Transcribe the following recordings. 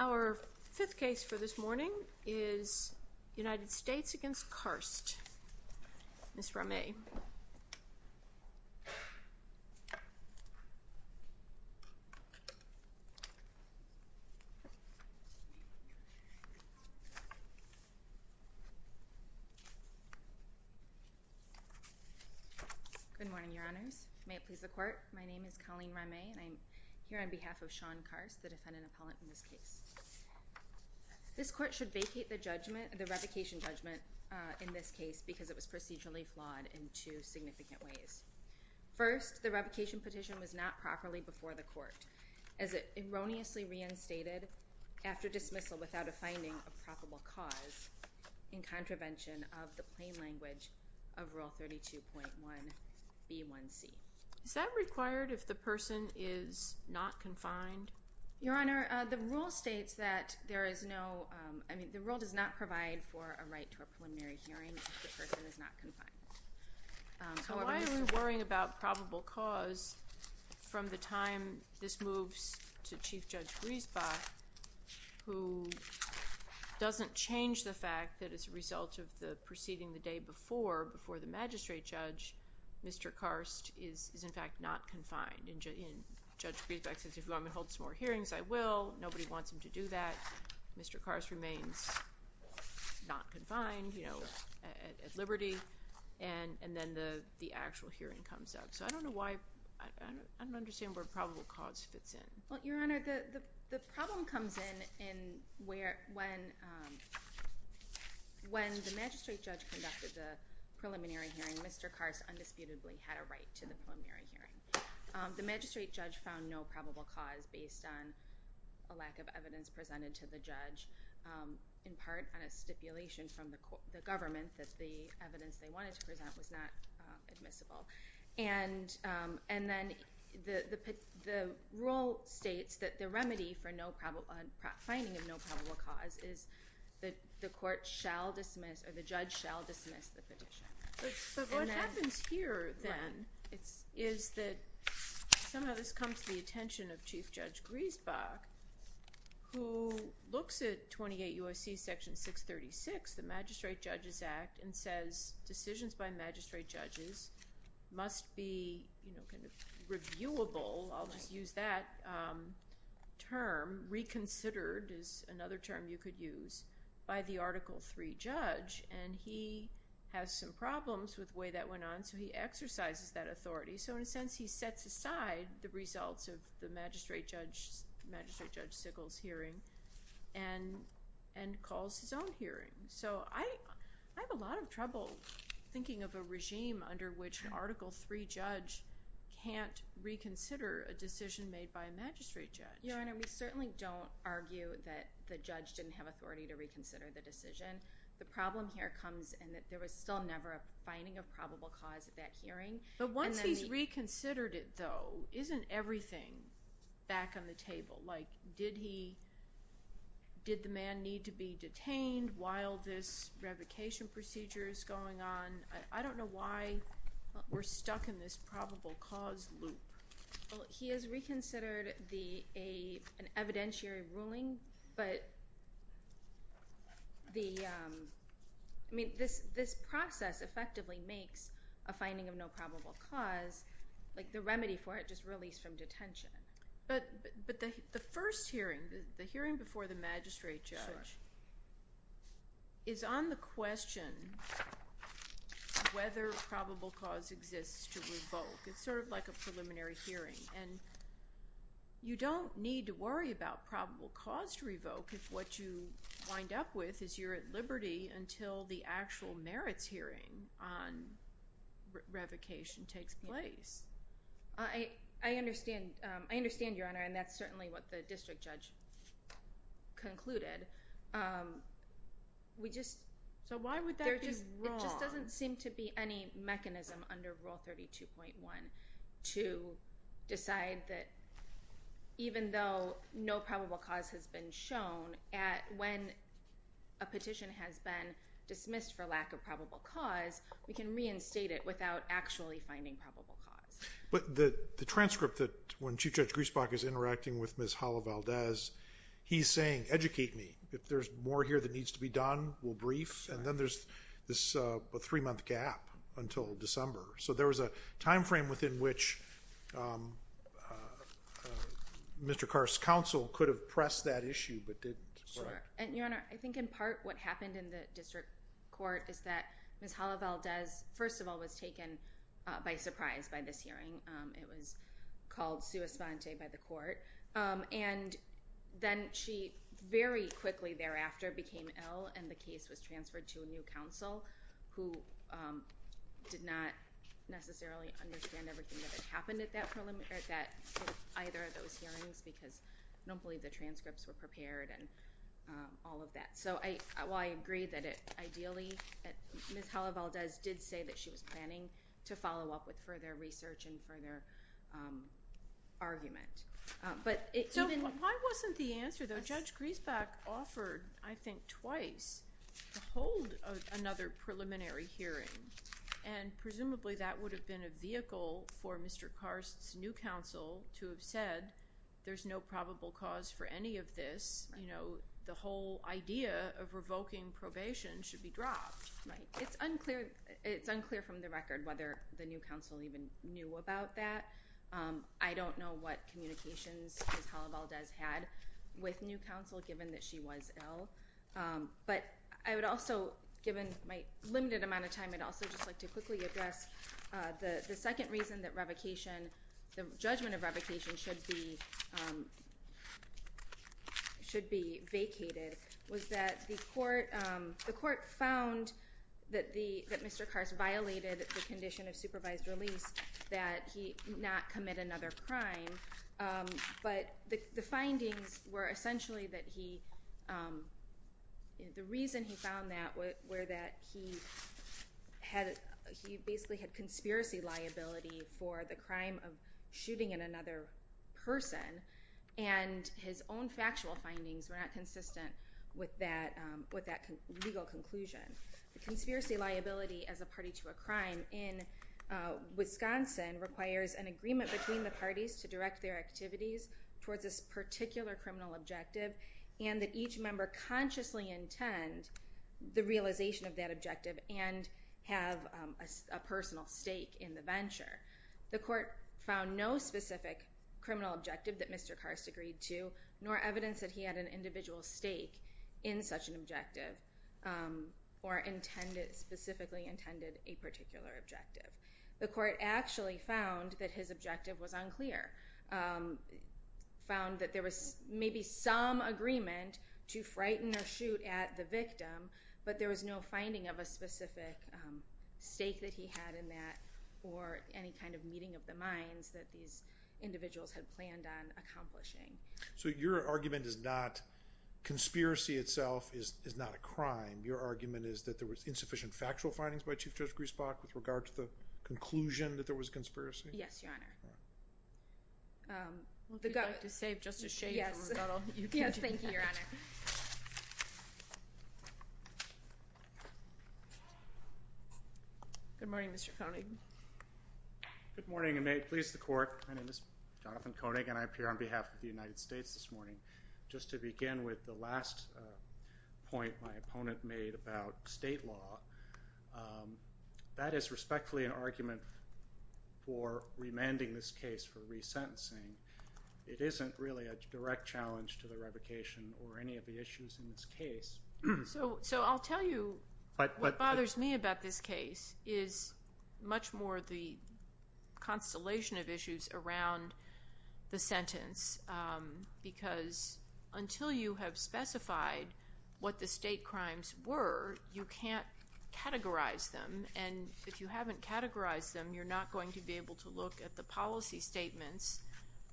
Our fifth case for this morning is United States v. Karst, Ms. Rameh. My name is Colleen Rameh, and I'm here on behalf of Shawn Karst, the defendant appellate in this case. This court should vacate the revocation judgment in this case because it was procedurally flawed in two significant ways. First, the revocation petition was not properly before the court, as it erroneously reinstated after dismissal without a finding of probable cause in contravention of the plain language of Rule 32.1b1c. Ms. Rameh Is that required if the person is not confined? Ms. Karst Your Honor, the rule states that there is no—I mean, the rule does not provide for a right to a preliminary hearing if the person is not confined. Ms. Rameh So why are we worrying about probable cause from the time this moves to Chief Judge Griesbach, who doesn't change the fact that as a result of the proceeding the day before, before the magistrate judge, Mr. Karst is in fact not confined. And Judge Griesbach says, if you want me to hold some more hearings, I will. Nobody wants him to do that. So Mr. Karst remains not confined, you know, at liberty, and then the actual hearing comes up. So I don't know why—I don't understand where probable cause fits in. Ms. Rameh Well, Your Honor, the problem comes in when the magistrate judge conducted the preliminary hearing, Mr. Karst undisputably had a right to the preliminary hearing. The magistrate judge found no probable cause based on a lack of evidence presented to the judge, in part on a stipulation from the government that the evidence they wanted to present was not admissible. And then the rule states that the remedy for finding of no probable cause is that the court shall dismiss—or the judge shall dismiss the petition. But what happens here, then, is that somehow this comes to the attention of Chief Judge Griesbach, who looks at 28 U.S.C. Section 636, the Magistrate Judges Act, and says decisions by magistrate judges must be, you know, kind of reviewable—I'll just use that term—reconsidered, is another term you could use, by the Article III judge. And he has some problems with the way that went on, so he exercises that authority. So in a sense, he sets aside the results of the magistrate judge—Magistrate Judge Sigel's hearing and calls his own hearing. So I have a lot of trouble thinking of a regime under which an Article III judge can't reconsider a decision made by a magistrate judge. Ms. Rameh Your Honor, we certainly don't argue that the judge didn't have authority to reconsider the decision. The problem here comes in that there was still never a finding of probable cause at that hearing. But once he's reconsidered it, though, isn't everything back on the table? Like, did he—did the man need to be detained while this revocation procedure is going on? I don't know why we're stuck in this probable cause loop. Well, he has reconsidered the—an evidentiary ruling, but the—I mean, this process effectively makes a finding of no probable cause—like, the remedy for it, just release from detention. But the first hearing, the hearing before the magistrate judge, is on the question whether probable cause exists to revoke. It's sort of like a preliminary hearing, and you don't need to worry about probable cause to revoke if what you wind up with is you're at liberty until the actual merits hearing on revocation takes place. I—I understand. I understand, Your Honor, and that's certainly what the district judge concluded. We just— So why would that be wrong? There just doesn't seem to be any mechanism under Rule 32.1 to decide that even though no probable cause has been shown, at—when a petition has been dismissed for lack of probable cause, we can reinstate it without actually finding probable cause. But the transcript that—when Chief Judge Griesbach is interacting with Ms. Hala Valdez, he's saying, educate me. If there's more here that needs to be done, we'll brief. And then there's this three-month gap until December. So there was a time frame within which Mr. Carr's counsel could have pressed that issue but didn't. Sure. And, Your Honor, I think in part what happened in the district court is that Ms. Hala Valdez, first of all, was taken by surprise by this hearing. It was called sua sponte by the court. And then she very quickly thereafter became ill and the case was transferred to a new counsel who did not necessarily understand everything that had happened at that preliminary—at either of those hearings because I don't believe the transcripts were prepared and all of that. So while I agree that it—ideally, Ms. Hala Valdez did say that she was planning to follow up with further research and further argument. So why wasn't the answer, though? Judge Griesbach offered, I think, twice to hold another preliminary hearing. And presumably that would have been a vehicle for Mr. Carr's new counsel to have said, there's no probable cause for any of this. The whole idea of revoking probation should be dropped. Right. It's unclear from the record whether the new counsel even knew about that. I don't know what communications Ms. Hala Valdez had with new counsel given that she was ill. But I would also, given my limited amount of time, I'd also just like to quickly address the second reason that revocation—the judgment of revocation should be vacated was that the court—the court found that the—that Mr. Carr's violated the condition of supervised release that he not commit another crime. But the findings were essentially that he—the reason he found that were that he had—he basically had conspiracy liability for the crime of shooting at another person. And his own factual findings were not consistent with that—with that legal conclusion. The conspiracy liability as a party to a crime in Wisconsin requires an agreement between the parties to direct their activities towards this particular criminal objective and that each member consciously intend the realization of that objective and have a personal stake in the venture. The court found no specific criminal objective that Mr. Carr's agreed to, nor evidence that he had an individual stake in such an objective or intended—specifically intended a particular objective. The court actually found that his objective was unclear, found that there was maybe some agreement to frighten or shoot at the victim, but there was no finding of a specific stake that he had in that or any kind of meeting of the minds that these individuals had planned on accomplishing. So your argument is not—conspiracy itself is not a crime. Your argument is that there was insufficient factual findings by Chief Justice Griesbach with regard to the conclusion that there was a conspiracy? Yes, Your Honor. Would you like to save Justice Shade for rebuttal? Yes, thank you, Your Honor. Good morning, Mr. Koenig. Good morning, and may it please the court, my name is Jonathan Koenig, and I appear on United States this morning. Just to begin with the last point my opponent made about state law, that is respectfully an argument for remanding this case for resentencing. It isn't really a direct challenge to the revocation or any of the issues in this case. So I'll tell you what bothers me about this case is much more the constellation of issues around the sentence, because until you have specified what the state crimes were, you can't categorize them. And if you haven't categorized them, you're not going to be able to look at the policy statements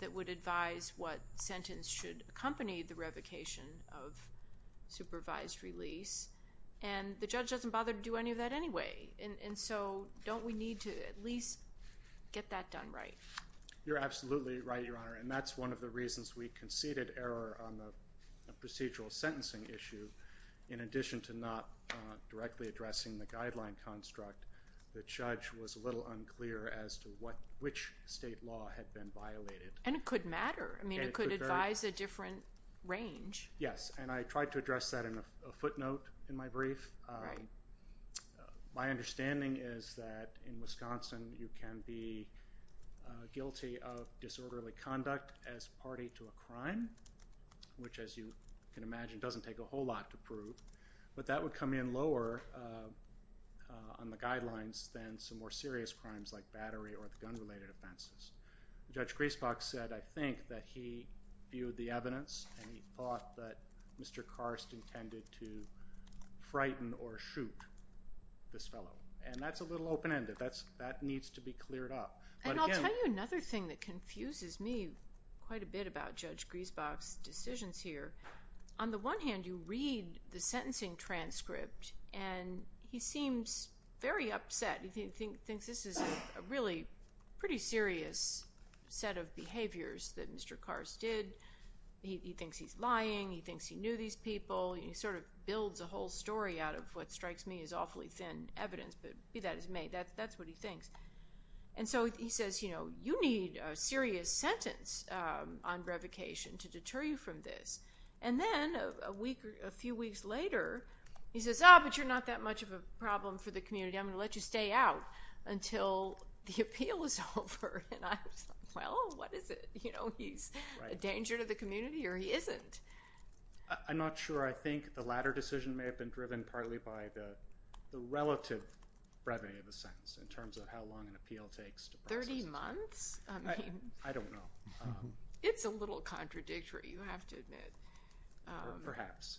that would advise what sentence should accompany the revocation of supervised release. And the judge doesn't bother to do any of that anyway. And so don't we need to at least get that done right? You're absolutely right, Your Honor, and that's one of the reasons we conceded error on the procedural sentencing issue. In addition to not directly addressing the guideline construct, the judge was a little unclear as to which state law had been violated. And it could matter. I mean, it could advise a different range. Yes, and I tried to address that in a footnote in my brief. Right. My understanding is that in Wisconsin, you can be guilty of disorderly conduct as party to a crime, which, as you can imagine, doesn't take a whole lot to prove. But that would come in lower on the guidelines than some more serious crimes like battery or the gun-related offenses. Judge Griesbach said, I think, that he viewed the evidence and he thought that Mr. Karst intended to frighten or shoot this fellow. And that's a little open-ended. That needs to be cleared up. And I'll tell you another thing that confuses me quite a bit about Judge Griesbach's decisions here. On the one hand, you read the sentencing transcript and he seems very upset. He thinks this is a really pretty serious set of behaviors that Mr. Karst did. He thinks he's lying. He thinks he knew these people. He sort of builds a whole story out of what strikes me as awfully thin evidence. But that's what he thinks. And so he says, you know, you need a serious sentence on revocation to deter you from this. And then a few weeks later, he says, oh, but you're not that much of a problem for the community. I'm going to let you stay out until the appeal is over. And I was like, well, what is it? You know, he's a danger to the community or he isn't. I'm not sure. I think the latter decision may have been driven partly by the relative brevity of the sentence in terms of how long an appeal takes. 30 months? I don't know. It's a little contradictory, you have to admit. Perhaps.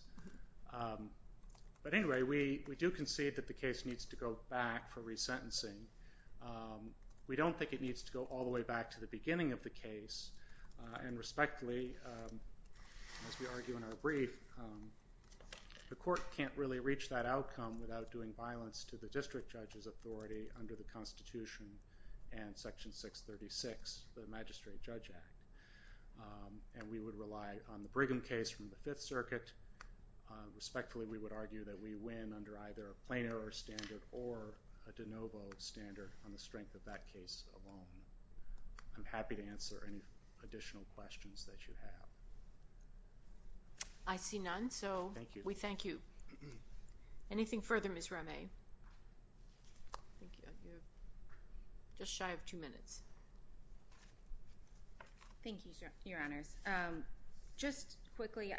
But anyway, we do concede that the case needs to go back for resentencing. We don't think it needs to go all the way back to the beginning of the case. And respectfully, as we argue in our brief, the court can't really reach that outcome without doing violence to the district judge's authority under the Constitution and Section 636, the Magistrate Judge Act. And we would rely on the Brigham case from the Fifth Circuit. Respectfully, we would argue that we win under either a plain error standard or a de novo standard on the strength of that case alone. I'm happy to answer any additional questions that you have. I see none. So, we thank you. Anything further, Ms. Rameh? Thank you. Just shy of two minutes. Thank you, Your Honors. Just quickly,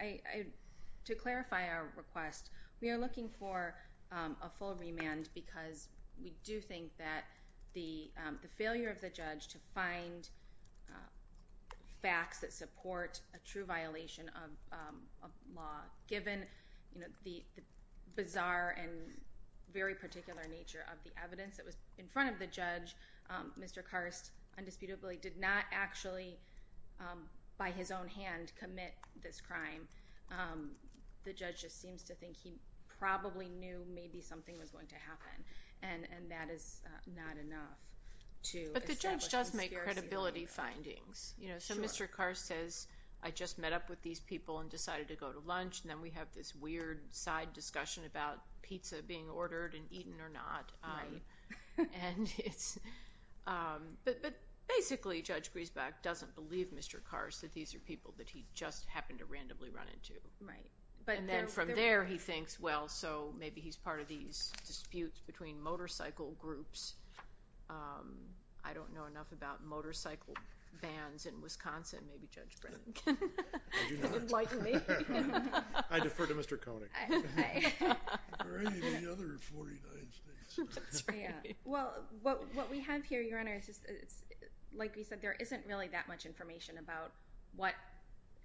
to clarify our request, we are looking for a full remand because we do think that the failure of the judge to find facts that support a true violation of law, given the bizarre and very particular nature of the evidence that was in front of the judge, Mr. Karst, indisputably, did not actually, by his own hand, commit this crime. The judge just seems to think he probably knew maybe something was going to happen. And that is not enough to establish the scarcity of the evidence. But the judge does make credibility findings. So, Mr. Karst says, I just met up with these people and decided to go to lunch. And then we have this weird side discussion about pizza being ordered and eaten or not. But basically, Judge Griesbach doesn't believe Mr. Karst that these are people that he just happened to randomly run into. Then from there, he thinks, well, so maybe he's part of these disputes between motorcycle groups. I don't know enough about motorcycle bans in Wisconsin. Maybe Judge Brennan can enlighten me. I defer to Mr. Koenig. Well, what we have here, Your Honors, like we said, there isn't really that much information about what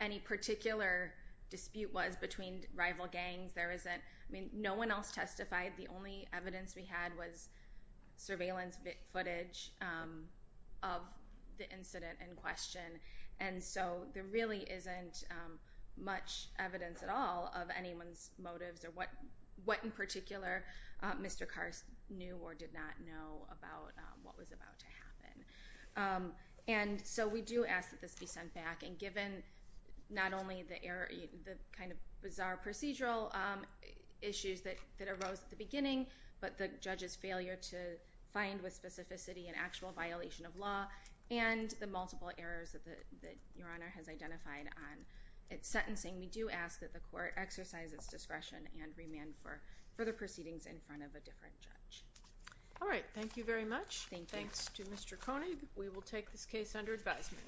any particular dispute was between rival gangs. No one else testified. The only evidence we had was surveillance footage of the incident in question. And so there really isn't much evidence at all of anyone's motives or what, in particular, Mr. Karst knew or did not know about what was about to happen. And so we do ask that this be sent back. And given not only the kind of bizarre procedural issues that arose at the beginning, but the judge's failure to find with specificity an actual violation of law and the multiple errors that Your Honor has identified on its sentencing, we do ask that the court exercise its discretion and remand for further proceedings in front of a different judge. All right. Thank you very much. Thanks to Mr. Koenig. We will take this case under advisement.